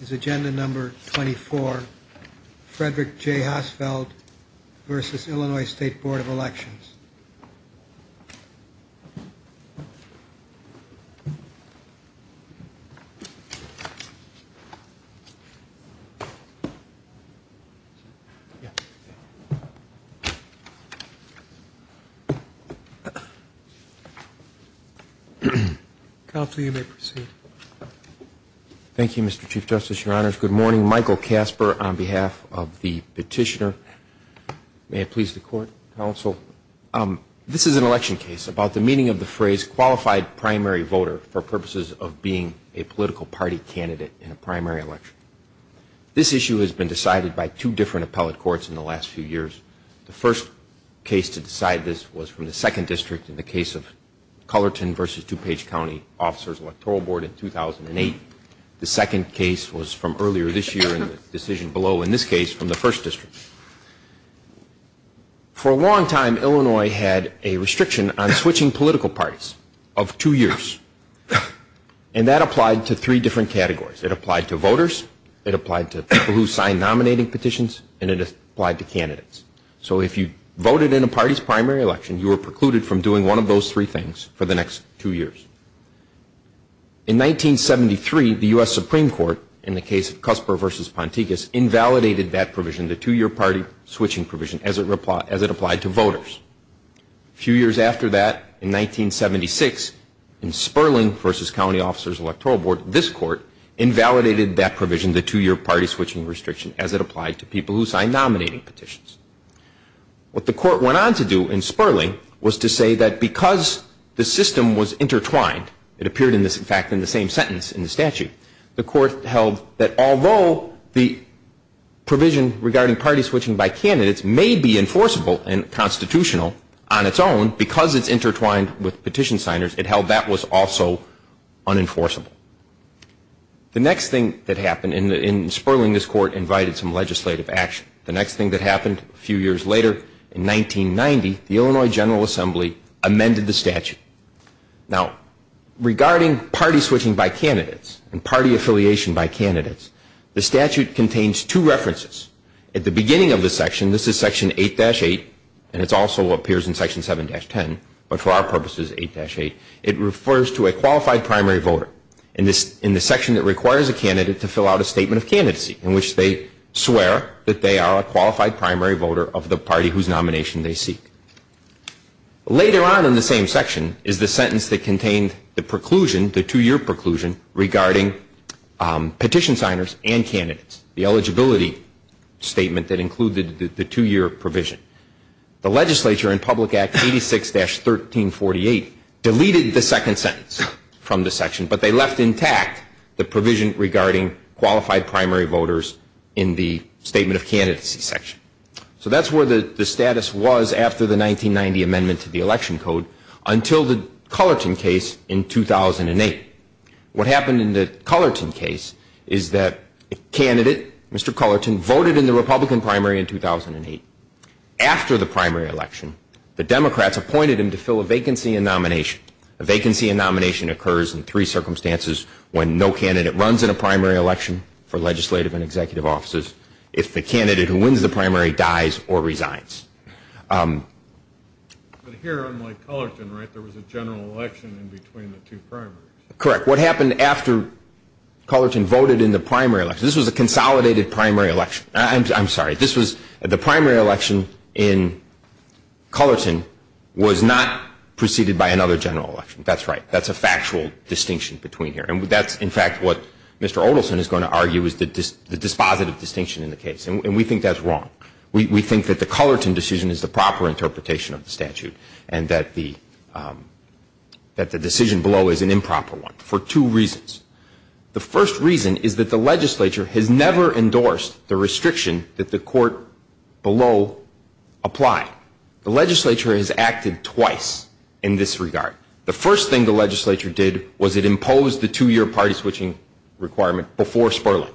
is agenda number 24, Frederick J. Hossfeld v. Illinois State Board of Elections. Thank you, Mr. Chief Justice, your honors. Good morning. Michael Casper on behalf of the petitioner. May it please the court, counsel. This is an election case about the meaning of the phrase qualified primary voter for purposes of being a political party candidate in a primary election. This issue has been decided by two different appellate courts in the last few years. The first case to decide this was from the second district in the case of Cullerton v. DuPage County Officers Electoral Board in 2008. The second case was from earlier this year in the decision below in this case from the first district. For a long time, Illinois had a restriction on switching political parties of two years. And that applied to three different categories. It applied to voters, it applied to people who signed nominating petitions, and it applied to candidates. So if you voted in a party's primary election, you were precluded from doing one of those three things for the next two years. In 1973, the U.S. Supreme Court, in the case of Casper v. Ponticus, invalidated that provision, the Few years after that, in 1976, in Sperling v. County Officers Electoral Board, this court invalidated that provision, the two-year party switching restriction, as it applied to people who signed nominating petitions. What the court went on to do in Sperling was to say that because the system was intertwined, it appeared in this, in fact, in the same sentence in the statute, the court held that although the provision regarding party switching by general, on its own, because it's intertwined with petition signers, it held that was also unenforceable. The next thing that happened in Sperling, this court invited some legislative action. The next thing that happened a few years later, in 1990, the Illinois General Assembly amended the statute. Now, regarding party switching by candidates and party affiliation by candidates, the statute contains two references. At the beginning of the section, this is section 8-8, and it also appears in section 7-10, but for our purposes, 8-8, it refers to a qualified primary voter in the section that requires a candidate to fill out a statement of candidacy, in which they swear that they are a qualified primary voter of the party whose nomination they seek. Later on in the same section is the sentence that contained the preclusion, the two-year preclusion, regarding petition signers and candidates, the eligibility statement that included the two-year provision. The legislature in Public Act 86-1348 deleted the second sentence from the section, but they left intact the provision regarding qualified primary voters in the statement of candidacy section. So that's where the status was after the 1990 amendment to the election code, until the Cullerton case in 2008. What happened in the Cullerton case is that a candidate, Mr. Cullerton, voted in the Republican primary in 2008. After the primary election, the Democrats appointed him to fill a vacancy in nomination. A vacancy in nomination occurs in three circumstances, when no candidate runs in a primary election for legislative and executive offices, if the candidate who wins the primary dies or resigns. But here, unlike Cullerton, right, there was a general election in between the two primaries. Correct. What happened after Cullerton voted in the primary election, this was a consolidated primary election. I'm sorry, this was, the primary election in Cullerton was not preceded by another general election. That's right. That's a factual distinction between here. And that's, in fact, what Mr. Odelson is going to argue is the dispositive distinction in the case. And we think that's wrong. We think that the Cullerton decision is the proper interpretation of the statute and that the decision below is an improper one for two reasons. The first reason is that the legislature has never endorsed the restriction that the court below applied. The legislature has acted twice in this regard. The first thing the legislature did was it imposed the two-year party switching requirement before Sperling.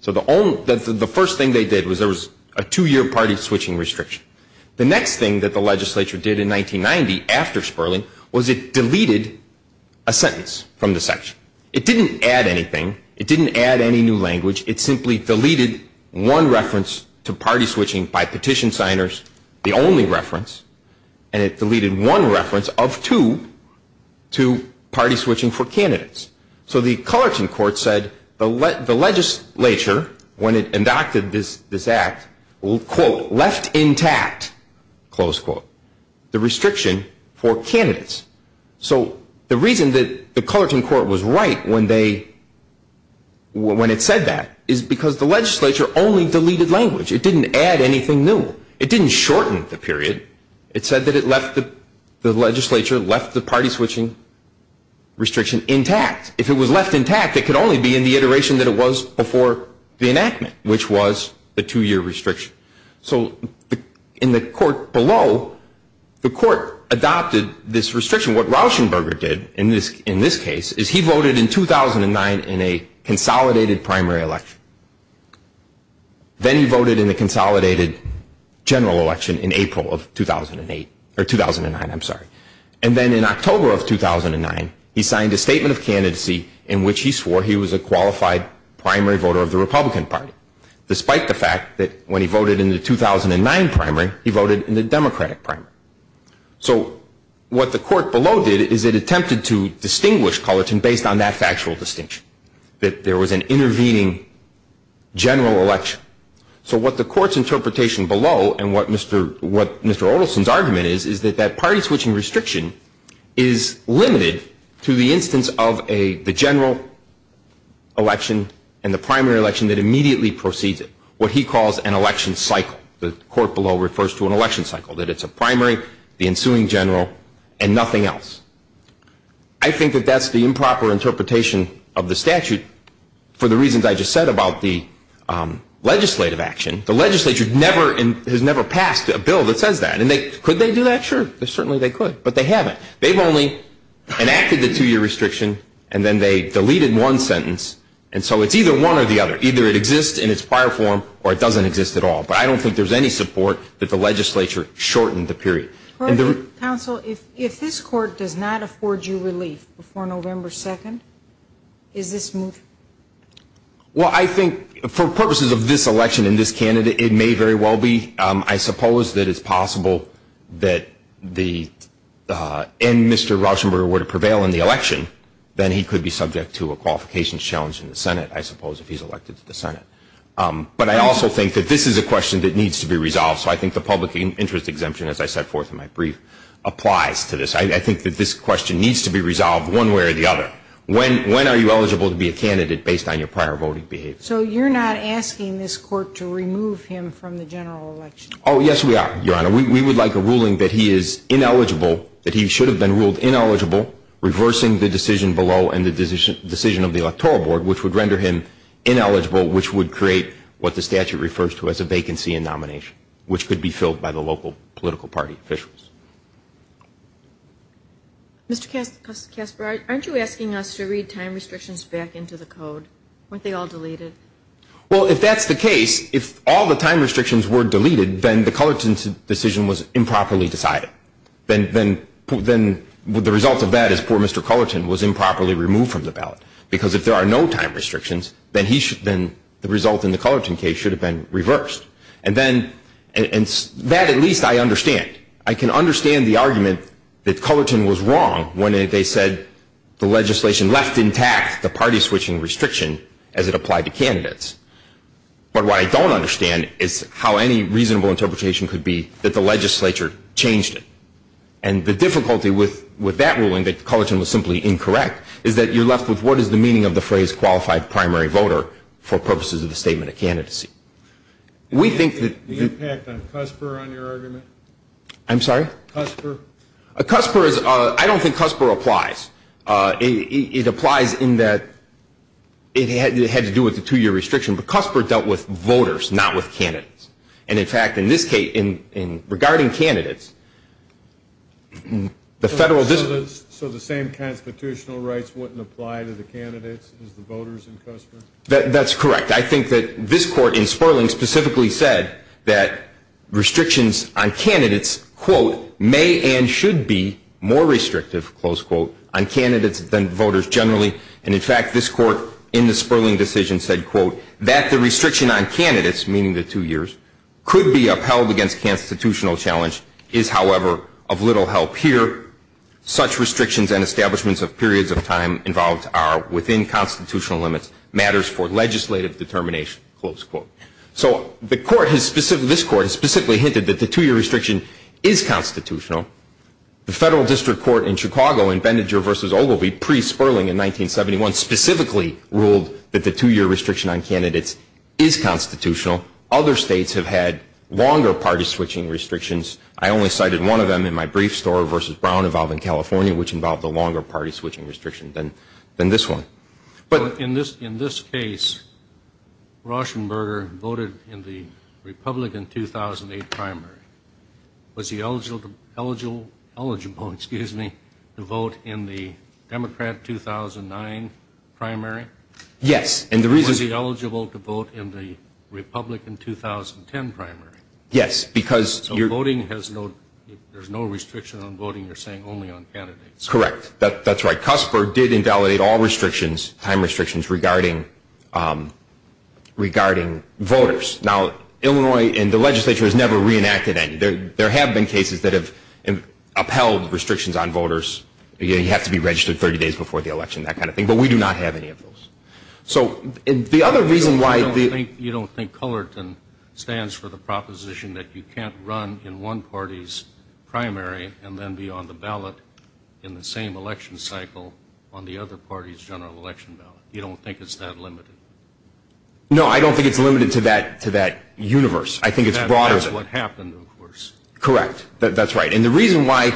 So the first thing they did was there was a two-year party switching restriction. The next thing that the legislature did in 1990 after Sperling was it deleted a sentence from the section. It didn't add anything. It didn't add any new language. It simply deleted one reference to party switching by petition signers, the only reference, and it deleted one reference of two to party switching for candidates. So the Cullerton court said that the legislature, when it enacted this act, will, quote, left intact, close quote, the restriction for candidates. So the reason that the Cullerton court was right when they, when it said that is because the legislature only deleted language. It didn't add anything new. It didn't shorten the period. It said that it left, the legislature left the party switching. So that's the iteration that it was before the enactment, which was the two-year restriction. So in the court below, the court adopted this restriction. What Rauschenberger did in this case is he voted in 2009 in a consolidated primary election. Then he voted in a consolidated general election in April of 2008, or 2009, I'm sorry. And then in October of 2009, he signed a statement of candidacy in which he swore he was a qualified primary voter of the Republican Party, despite the fact that when he voted in the 2009 primary, he voted in the Democratic primary. So what the court below did is it attempted to distinguish Cullerton based on that factual distinction, that there was an intervening general election. So what the court's interpretation below and what Mr. Oleson's argument is, is that that party switching restriction is limited to the instance of the general election and the primary election that immediately precedes it, what he calls an election cycle. The court below refers to an election cycle, that it's a primary, the ensuing general, and nothing else. I think that that's the improper interpretation of the statute for the reasons I just said about the legislative action. The legislature has never passed a bill that says that. And they, could they do that? Sure, certainly they could. But they haven't. They've only enacted the two-year restriction, and then they deleted one sentence. And so it's either one or the other. Either it exists in its prior form, or it doesn't exist at all. But I don't think there's any support that the legislature shortened the period. Court, counsel, if this court does not afford you relief before November 2nd, is this moot? Well, I think for purposes of this election and this candidate, it may very well be. I think that if the legislature did not allow that the, and Mr. Rauschenberg were to prevail in the election, then he could be subject to a qualifications challenge in the Senate, I suppose, if he's elected to the Senate. But I also think that this is a question that needs to be resolved. So I think the public interest exemption, as I set forth in my brief, applies to this. I think that this question needs to be resolved one way or the other. When, when are you eligible to be a candidate based on your prior voting behavior? So you're not asking this court to remove him from the general election? Oh, yes, we are, Your Honor. We would like a ruling that he is ineligible, that he should have been ruled ineligible, reversing the decision below and the decision of the Electoral Board, which would render him ineligible, which would create what the statute refers to as a vacancy in nomination, which could be filled by the local political party officials. Mr. Kasper, aren't you asking us to read time restrictions back into the code? Weren't they all deleted? Well, if that's the case, if all the time restrictions were deleted, then the Cullerton decision was improperly decided. Then, then, then the result of that is poor Mr. Cullerton was improperly removed from the ballot. Because if there are no time restrictions, then he should, then the result in the Cullerton case should have been reversed. And then, and that at least I understand. I can understand the argument that Cullerton was wrong when they said the legislation left intact the party switching restriction as it applied to candidates. But what I don't understand is how any reasonable interpretation could be that the legislature changed it. And the difficulty with, with that ruling that Cullerton was simply incorrect is that you're left with what is the meaning of the phrase qualified primary voter for purposes of the statement of candidacy. We think that The impact on Kasper on your argument? I'm sorry? Kasper? Kasper is, I don't think Kasper applies. It applies in that it had, it had to do with the two-year restriction, but Kasper dealt with voters, not with candidates. And in fact in this case, in regarding candidates, the federal So the same constitutional rights wouldn't apply to the candidates as the voters in Kasper? That's correct. I think that this court in Sperling specifically said that restrictions on candidates, quote, may and should be more restrictive, close quote, on candidates than voters generally. And in fact, this court in the Sperling decision said, quote, that the restriction on candidates, meaning the two years, could be upheld against constitutional challenge is, however, of little help here. Such restrictions and establishments of periods of time involved are within constitutional limits, matters for legislative determination, close quote. So the court has specifically, this court has specifically hinted that the two-year restriction is constitutional. The federal district court in Chicago in Benninger versus Ogilvie pre-Sperling in 1971 specifically ruled that the two-year restriction on candidates is constitutional. Other states have had longer party switching restrictions. I only cited one of them in my brief story versus Brown involving California, which involved a longer party switching restriction than, than this one. But in this, in this case, Rauschenberger voted in the Republican 2008 primary. Was he eligible, eligible, eligible, excuse me, to vote in the Democrat 2009 primary? Yes, and the reason- Was he eligible to vote in the Republican 2010 primary? Yes, because- So voting has no, there's no restriction on voting, you're saying only on candidates. Correct. That, that's right. CUSPR did invalidate all restrictions, time restrictions, regarding, regarding voters. Now, Illinois in the legislature has never reenacted any. There, there have been cases that have upheld restrictions on voters. You have to be registered 30 days before the election, that kind of thing. But we do not have any of those. So the other reason why- You don't think, you don't think Cullerton stands for the proposition that you can't run in one party's primary and then be on the ballot in the same election cycle on the other party's general election ballot? You don't think it's that limited? No, I don't think it's limited to that, to that universe. I think it's broader than that. That's what happened, of course. Correct. That, that's right. And the reason why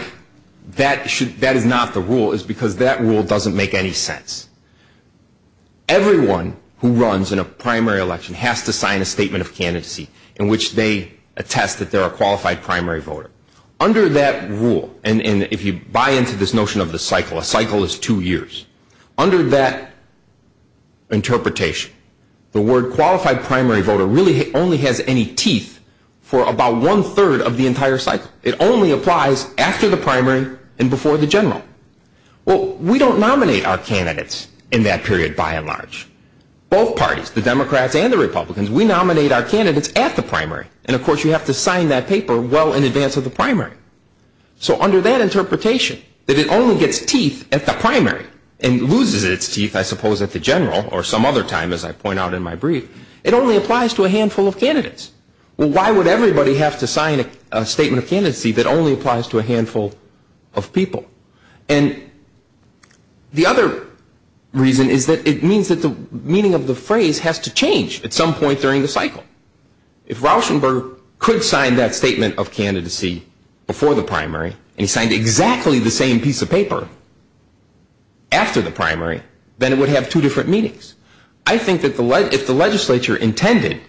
that should, that is not the rule is because that rule doesn't make any sense. Everyone who runs in a primary election has to sign a statement of candidacy in which they attest that they're a qualified primary voter. Under that rule, and, and if you buy into this notion of the cycle, a cycle is two years. Under that interpretation, the word qualified primary voter really only has any teeth for about one-third of the entire cycle. It only applies after the primary and before the general. Well, we don't nominate our candidates in that period by and large. Both parties, the Democrats and the Republicans, we nominate our candidates at the primary. And of course you have to sign that paper well in advance of the primary. So under that interpretation, that it only gets teeth at the primary and loses its teeth, I suppose, at the general or some other time, as I point out in my brief, it only applies to a handful of candidates. Well, why would everybody have to sign a statement of candidacy that only applies to a handful of people? And the other reason is that it means that the meaning of the phrase has to change at some point during the cycle. If Rauschenberg could sign that statement of candidacy before the primary and he signed exactly the same piece of paper after the primary, then it would have two different meanings. I think that if the legislature intended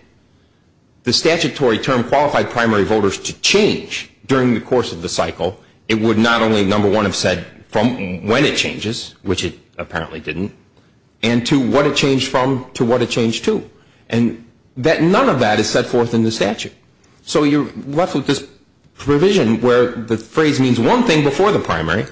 the statutory term qualified primary voters to change during the course of the cycle, it would not only, number one, have said from when it changes, which it apparently didn't, and to what it changed from to what it changed to. And none of that is set forth in the statute. So you're left with this provision where the phrase means one thing before the primary,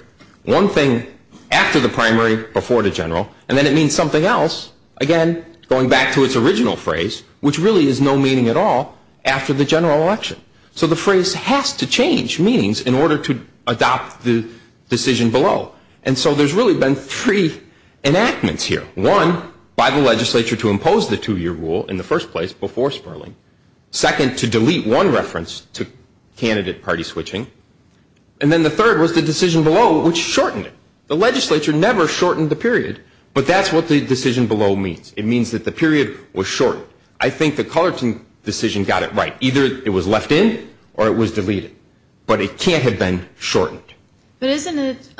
one thing after the primary, before the general, and then it means something else, again, going back to its original phrase, which really is no meaning at all after the general election. So the phrase has to change meanings in order to adopt the decision below. And so there's really been three enactments here. One, by the legislature to impose the two-year rule in the first place before Sperling. Second, to delete one reference to candidate party switching. And then the third was the decision below, which shortened it. The legislature never shortened the period, but that's what the decision below means. It means that the period was short. I think the Cullerton decision got it right. Either it was left in or it was deleted. But it can't have been shortened. But isn't it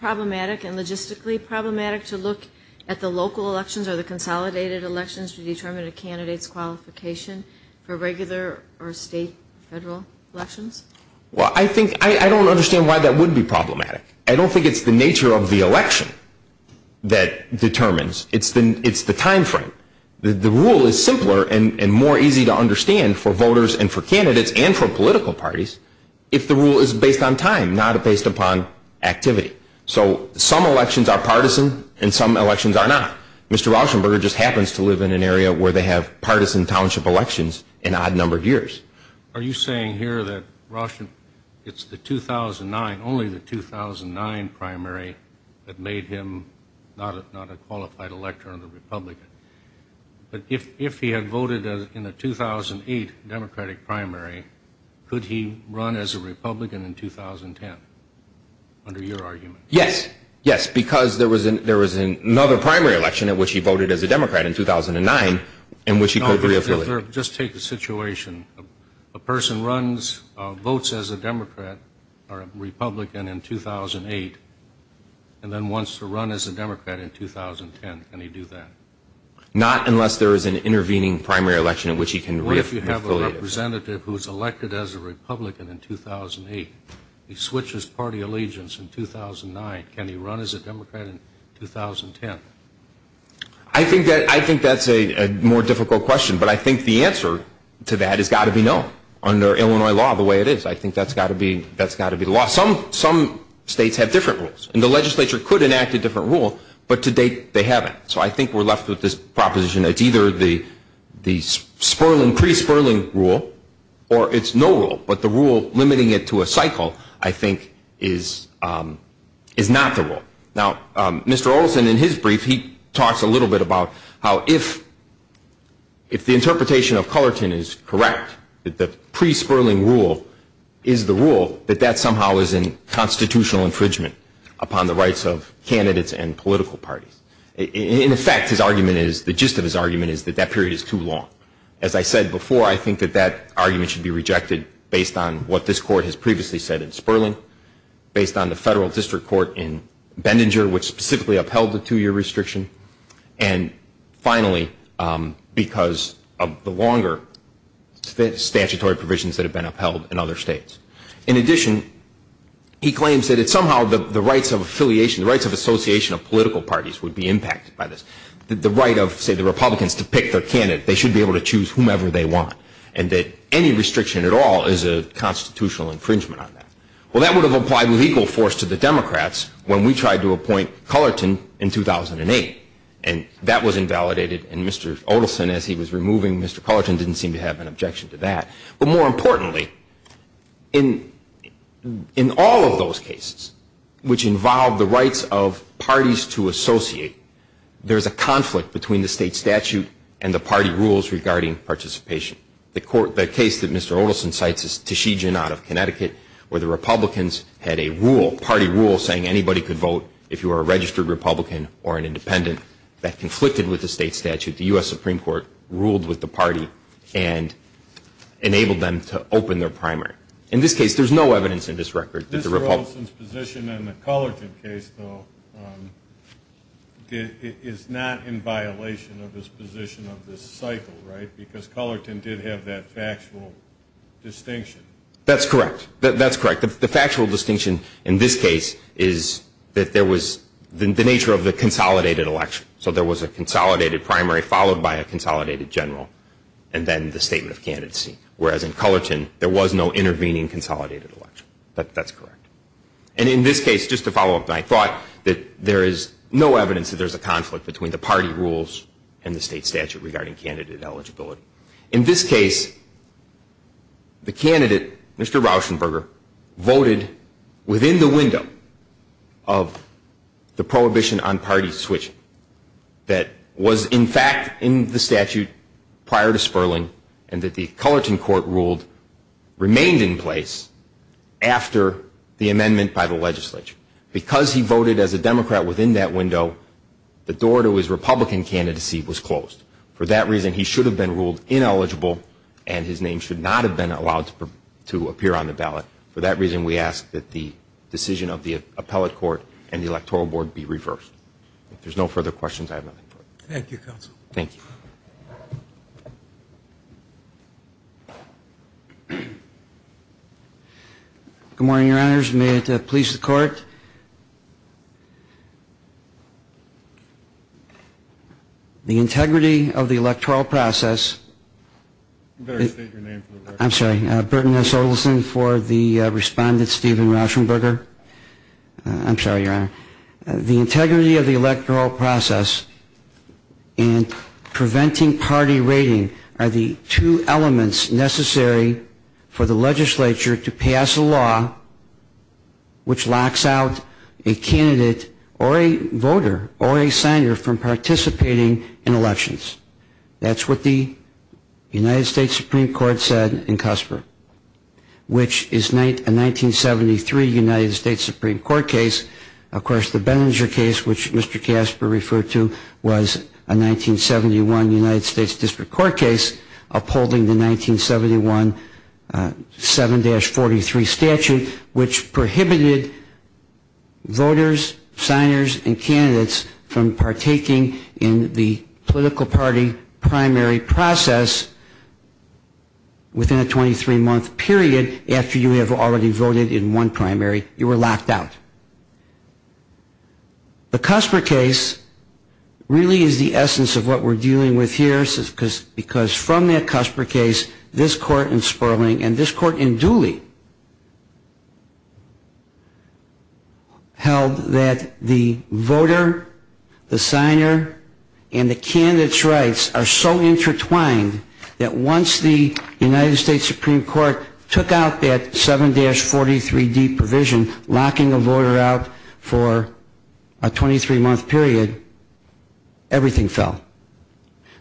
problematic and logistically problematic to look at the local elections or the consolidated elections to determine a candidate's qualification for regular or state or federal elections? Well, I think, I don't understand why that would be problematic. I don't think it's the nature of the election that determines. It's the time frame. The rule is simpler and more easy to understand for voters and for candidates and for political parties if the rule is based on time, not based upon activity. So some elections are partisan and some elections are not. Mr. Rauschenberger just happens to live in an area where they have partisan township elections in odd-numbered years. Are you saying here that it's the 2009, only the 2009 primary that made him not a qualified elector and a Republican? But if he had voted in a 2008 Democratic primary, could he run as a Republican in 2010? Under your argument? Yes. Yes. Because there was another primary election in which he voted as a Democrat in 2009 in which he could re-affiliate. Just take the situation. A person runs votes as a Democrat or a Republican in 2008 and then wants to run as a Democrat in 2010. Can he do that? Not unless there is an intervening primary election in which he can re-affiliate. What if you have a representative who is elected as a Republican in 2008. He switches party allegiance in 2009. Can he run as a Democrat in 2010? I think that's a more difficult question, but I think the answer to that has got to be no. Under Illinois law the way it is, I think that's got to be the law. Some states have different rules. And the legislature could enact a different rule, but to date they haven't. So I think we're left with this proposition that it's either the pre-Sperling rule or it's no rule, but the rule limiting it to a cycle I think is not the rule. Now Mr. Orlison in his brief, he talks a little bit about how if the interpretation of Cullerton is correct, that the pre-Sperling rule is the rule, that that somehow is in constitutional infringement upon the rights of candidates and political parties. In effect his argument is, the gist of his argument is that that period is too long. As I said before, I think that that argument should be rejected based on what this court has previously said in Sperling, based on the federal district court in Bendinger, which specifically upheld the two year restriction, and finally because of the longer statutory provisions that have been upheld in other states. In addition, he claims that it's somehow the rights of affiliation, the rights of association of political parties would be impacted by this. The right of say Republicans to pick their candidate, they should be able to choose whomever they want, and that any restriction at all is a constitutional infringement on that. Well that would have applied legal force to the Democrats when we tried to appoint Cullerton in 2008, and that was invalidated and Mr. Orlison as he was removing Mr. Cullerton didn't seem to have an objection to that. But more importantly in all of those cases which involve the rights of parties to associate there's a conflict between the state statute and the party rules regarding participation. The case that Mr. Orlison cites is Tichigin out of Connecticut where the Republicans had a rule, party rule saying anybody could vote if you were a registered Republican or an Independent that conflicted with the state statute. The U.S. Supreme Court ruled with the party and enabled them to open their primary. In this case there's no evidence in this record that the Republicans Mr. Orlison's position in the Cullerton case though is not in violation of his position of this cycle right? Because Cullerton did have that factual distinction. That's correct. That's correct. The factual distinction in this case is that there was the nature of the consolidated election so there was a consolidated primary followed by a consolidated general and then the statement of candidacy. Whereas in Cullerton there was no intervening consolidated election. That's correct. And in this case just to follow up I thought that there is no evidence that there's a conflict between the party rules and the state statute regarding candidate eligibility. In this case the candidate, Mr. Rauschenberger voted within the window of the prohibition on party switching that was in fact in the statute prior to Sperling and that the Cullerton court ruled remained in place after the amendment by the legislature. Because he voted as a Democrat within that window the door to his Republican candidacy was closed. For that reason he should have been ruled ineligible and his name should not have been allowed to appear on the ballot. For that reason we ask that the decision of the appellate court and the electoral board be reversed. If there's no further questions I have nothing further. Thank you counsel. Thank you. Good morning Your Honors. May it please the court. The integrity of the electoral process You better state your name for the record. I'm sorry. Burton S. Olson for the respondent Steven Rauschenberger. I'm sorry Your Honor. The integrity of the electoral process and preventing party rating are the two elements necessary for the legislature to pass a law which locks out a candidate or a voter or a signer from participating in elections. That's what the United States Supreme Court said in Casper. Which is a 1973 United States Supreme Court case. Of course the Benninger case which Mr. Casper referred to was a 1971 United States District Court case upholding the 1971 7-43 statute which prohibited voters, signers and candidates from partaking in the political party primary process within a 23 month period after you have already voted in one primary. You were locked out. The Casper case really is the essence of what we're dealing with here because from that Casper case this court in Sperling and this court in Dooley held that the voter, the signer and the candidate's rights are so intertwined that once the United States Supreme Court took out that 7-43D provision locking a voter out for a 23 month period, everything fell.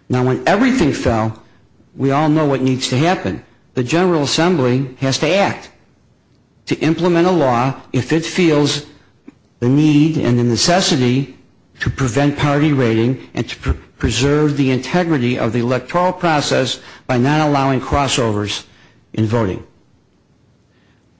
Now when everything fell, we all know what needs to happen. The General Assembly has to act to implement a law if it feels the need and the necessity to prevent party rating and to preserve the integrity of the electoral process by not allowing crossovers in voting.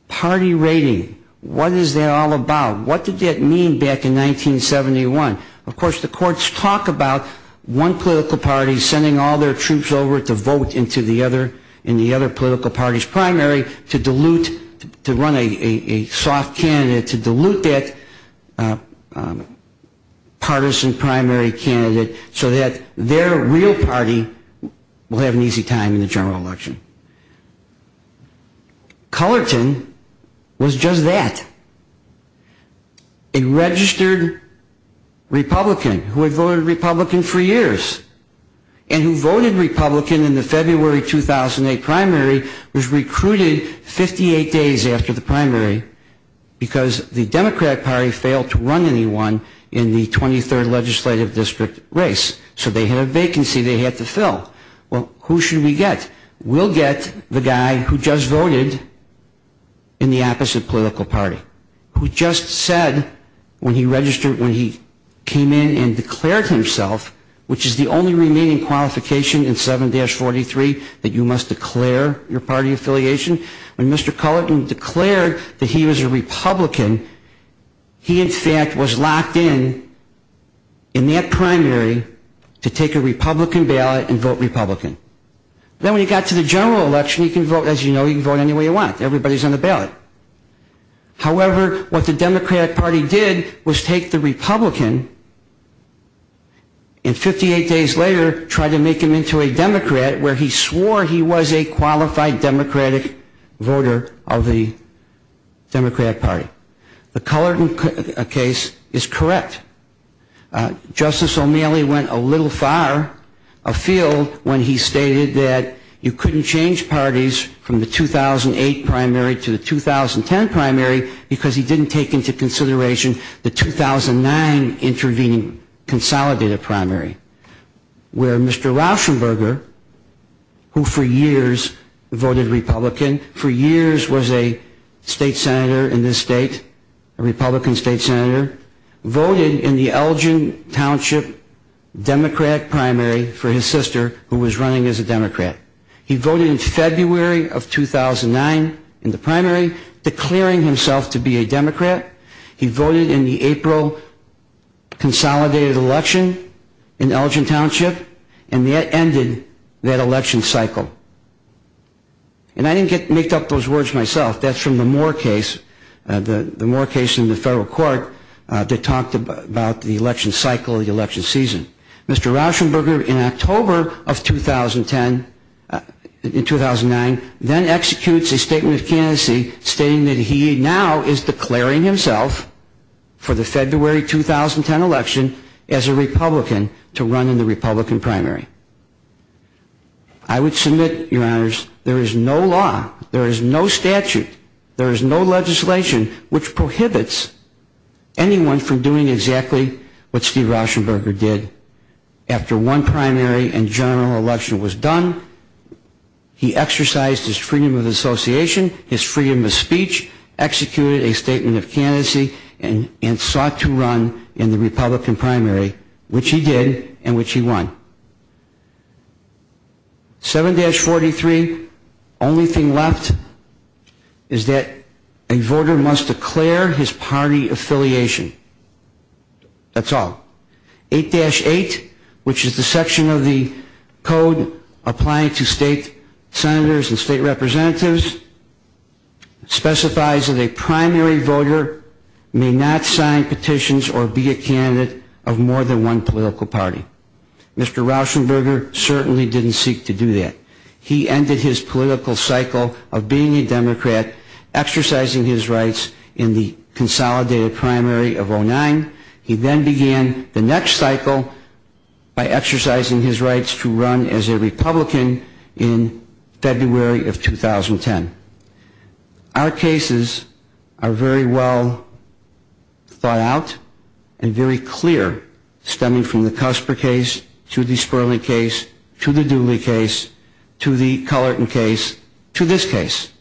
Party rating, what is that all about? What did that mean back in 1971? Of course the courts talk about one political party sending all their troops over to vote in the other political party's primary to dilute, to run a soft candidate to dilute that partisan primary candidate so that their real party will have an easy time in the general election. Colorton was just that. A registered Republican who had voted Republican for years and who voted Republican in the February 2008 primary was recruited 58 days after the primary because the Democrat party failed to run anyone in the 23rd legislative district race. So they had a vacancy they had to fill. Well, who should we get? We'll get the guy who just voted in the opposite political party who just said when he registered, when he came in and declared himself, which is the only remaining qualification in 7-43 that you must declare your party affiliation when Mr. Cullerton declared that he was a Republican he in fact was locked in in that primary to take a Republican ballot and vote Republican. Then when he got to the general election, as you know, you can vote any way you want everybody's on the ballot. However, what the Democratic party did was take the Republican and 58 days later try to make him into a Democrat where he swore he was a qualified Democratic voter of the Democratic party. The Cullerton case is correct. Justice O'Malley went a little far afield when he stated that you couldn't change parties from the 2008 primary to the 2010 primary because he didn't take into consideration the 2009 intervening consolidated primary. Where Mr. Rauschenberger, who for years voted Republican, for years was a state senator in this state a Republican state senator, voted in the Elgin Township Democratic primary for his sister who was running as a Democrat. He voted in February of 2009 in the primary declaring himself to be a Democrat he voted in the April consolidated election in Elgin Township and that ended that election cycle. And I didn't make up those words myself that's from the Moore case, the Moore case in the federal court that talked about the election cycle, the election season. Mr. Rauschenberger in October of 2010 in 2009 then executes a statement of candidacy stating that he now is declaring himself for the February 2010 election as a Republican to run in the Republican primary. I would submit, your honors, there is no law, there is no statute, there is no legislation which prohibits anyone from doing exactly what Steve Rauschenberger did. After one primary and general election was done, he exercised his freedom of association, his freedom of speech, executed a statement of candidacy and sought to run in the Republican primary which he did and which he won. 7-43, only thing left is that a voter must declare his party affiliation. That's all. 8-8 which is the section of the code applying to state senators and state representatives specifies that a primary voter may not sign petitions or be a candidate of more than one political party. Mr. Rauschenberger certainly didn't seek to do that. He ended his political cycle of being a Democrat, exercising his rights in the consolidated primary of 09. He then began the next cycle by exercising his rights to run as a Republican in February of 2010. Our cases are very well thought out and very clear stemming from the Cusper case to the Sperling case to the Clinton case to this case.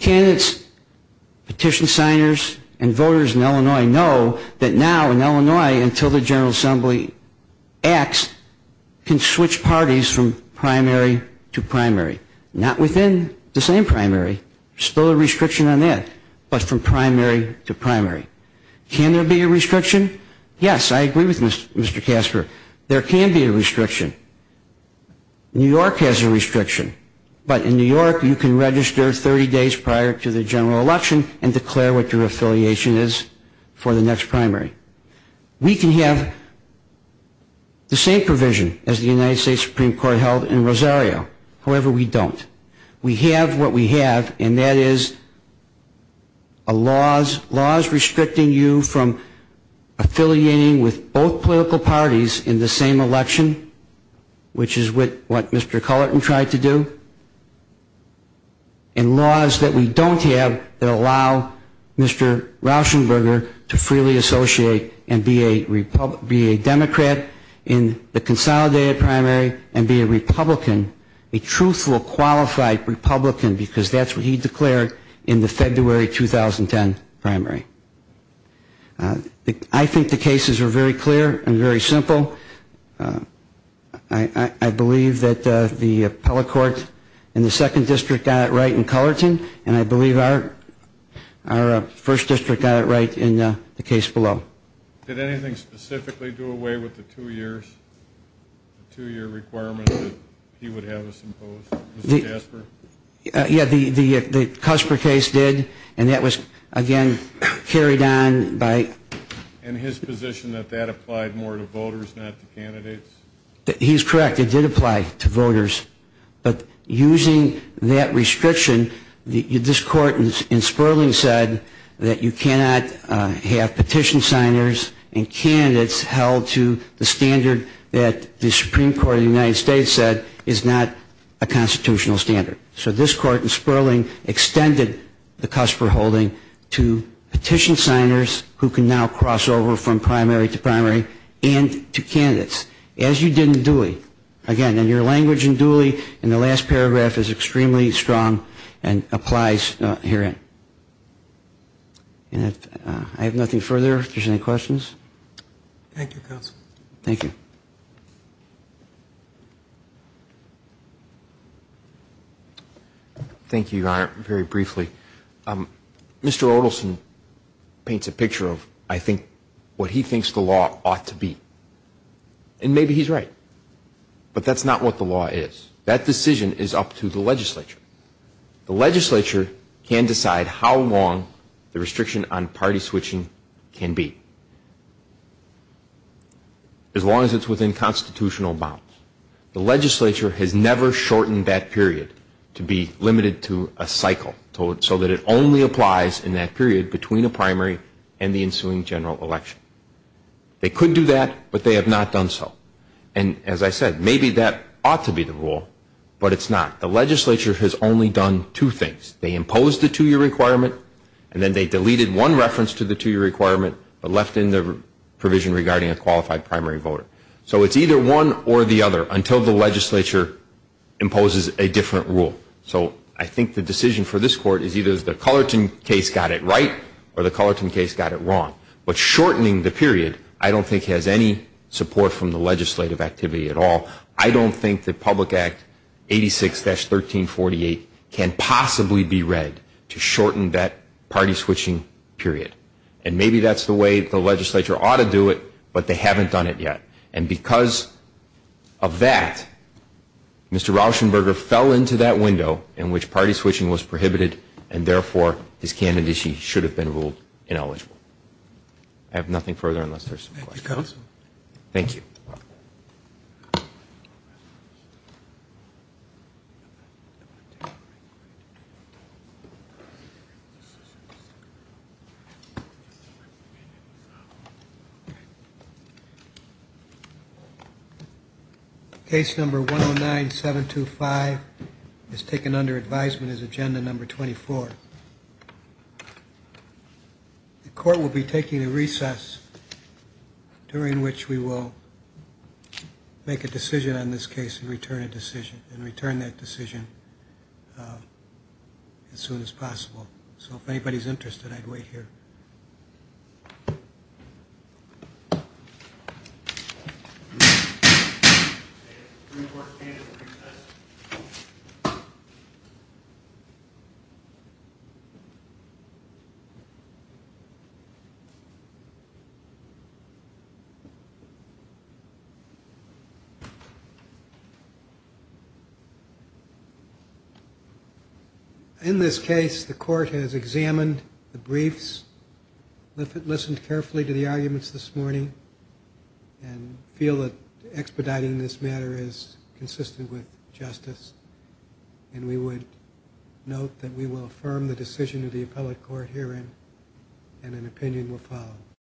Candidates, petition signers and voters in Illinois know that now in Illinois until the General Assembly acts can switch parties from primary to primary. Not within the same primary, still a restriction on that, but from primary to primary. Can there be a restriction? Yes, I agree with Mr. Casper. There can be a restriction. New York has a restriction, but in New York you can register 30 days prior to the general election and declare what your affiliation is for the next primary. We can have the same provision as the United States Supreme Court held in Rosario. However, we don't. We have what we have and that is laws restricting you from affiliating with both political parties in the same election, which is what Mr. Cullerton tried to do. And laws that we don't have that allow Mr. Rauschenberger to freely associate and be a Democrat in the consolidated primary and be a Republican, a truthful, qualified Republican because that's what he declared in the February 2010 primary. I think the I believe that the appellate court in the second district got it right in Cullerton and I believe our first district got it right in the case below. Did anything specifically do away with the two years requirement that he would have us impose, Mr. Casper? Yeah, the Cusper case did and that was again carried on by And his position that that applied more to voters, not to candidates? He's correct. It did apply to voters. But using that restriction, this court in Sperling said that you cannot have petition signers and candidates held to the standard that the Supreme Court of the United States said is not a constitutional standard. So this court in Sperling extended the Cusper holding to now cross over from primary to primary and to candidates as you did in Dooley. Again, in your language in Dooley, in the last paragraph is extremely strong and applies herein. And I have nothing further. If there's any questions? Thank you, Counselor. Thank you. Thank you, Your Honor. Very briefly, Mr. Odelson paints a picture of, I think, what he thinks the law ought to be. And maybe he's right. But that's not what the law is. That decision is up to the legislature. The legislature can decide how long the restriction on party switching can be. As long as it's within constitutional bounds. The legislature has never shortened that period to be limited to a cycle so that it only applies in that period between a primary and the ensuing general election. They could do that, but they have not done so. And as I said, maybe that ought to be the rule, but it's not. The legislature has only done two things. They imposed the two-year requirement and then they deleted one reference to the two-year requirement but left in the provision regarding a qualified primary voter. So it's either one or the other until the legislature imposes a different rule. So I think the decision for this Court is either the Cullerton case got it right or the Cullerton case got it wrong. But shortening the period I don't think has any support from the legislative activity at all. I don't think that Public Act 86-1348 can possibly be read to shorten that party switching period. And maybe that's the way the legislature ought to do it, but they haven't done it yet. And because of that, Mr. Rauschenberger fell into that window in which party switching was prohibited and therefore his candidacy should have been ruled ineligible. I have nothing further unless there are some questions. Thank you. Thank you. Case number 109725 is taken under advisement as agenda number 24. During which we will make a decision on this case and return that decision as soon as possible. So if anybody's interested I'd wait here. In this case the Court has examined the briefs, listened carefully to the arguments this morning, and feel that expediting this matter is consistent with justice. And we would note that we will affirm the decision of the Appellate Court herein and an opinion will follow.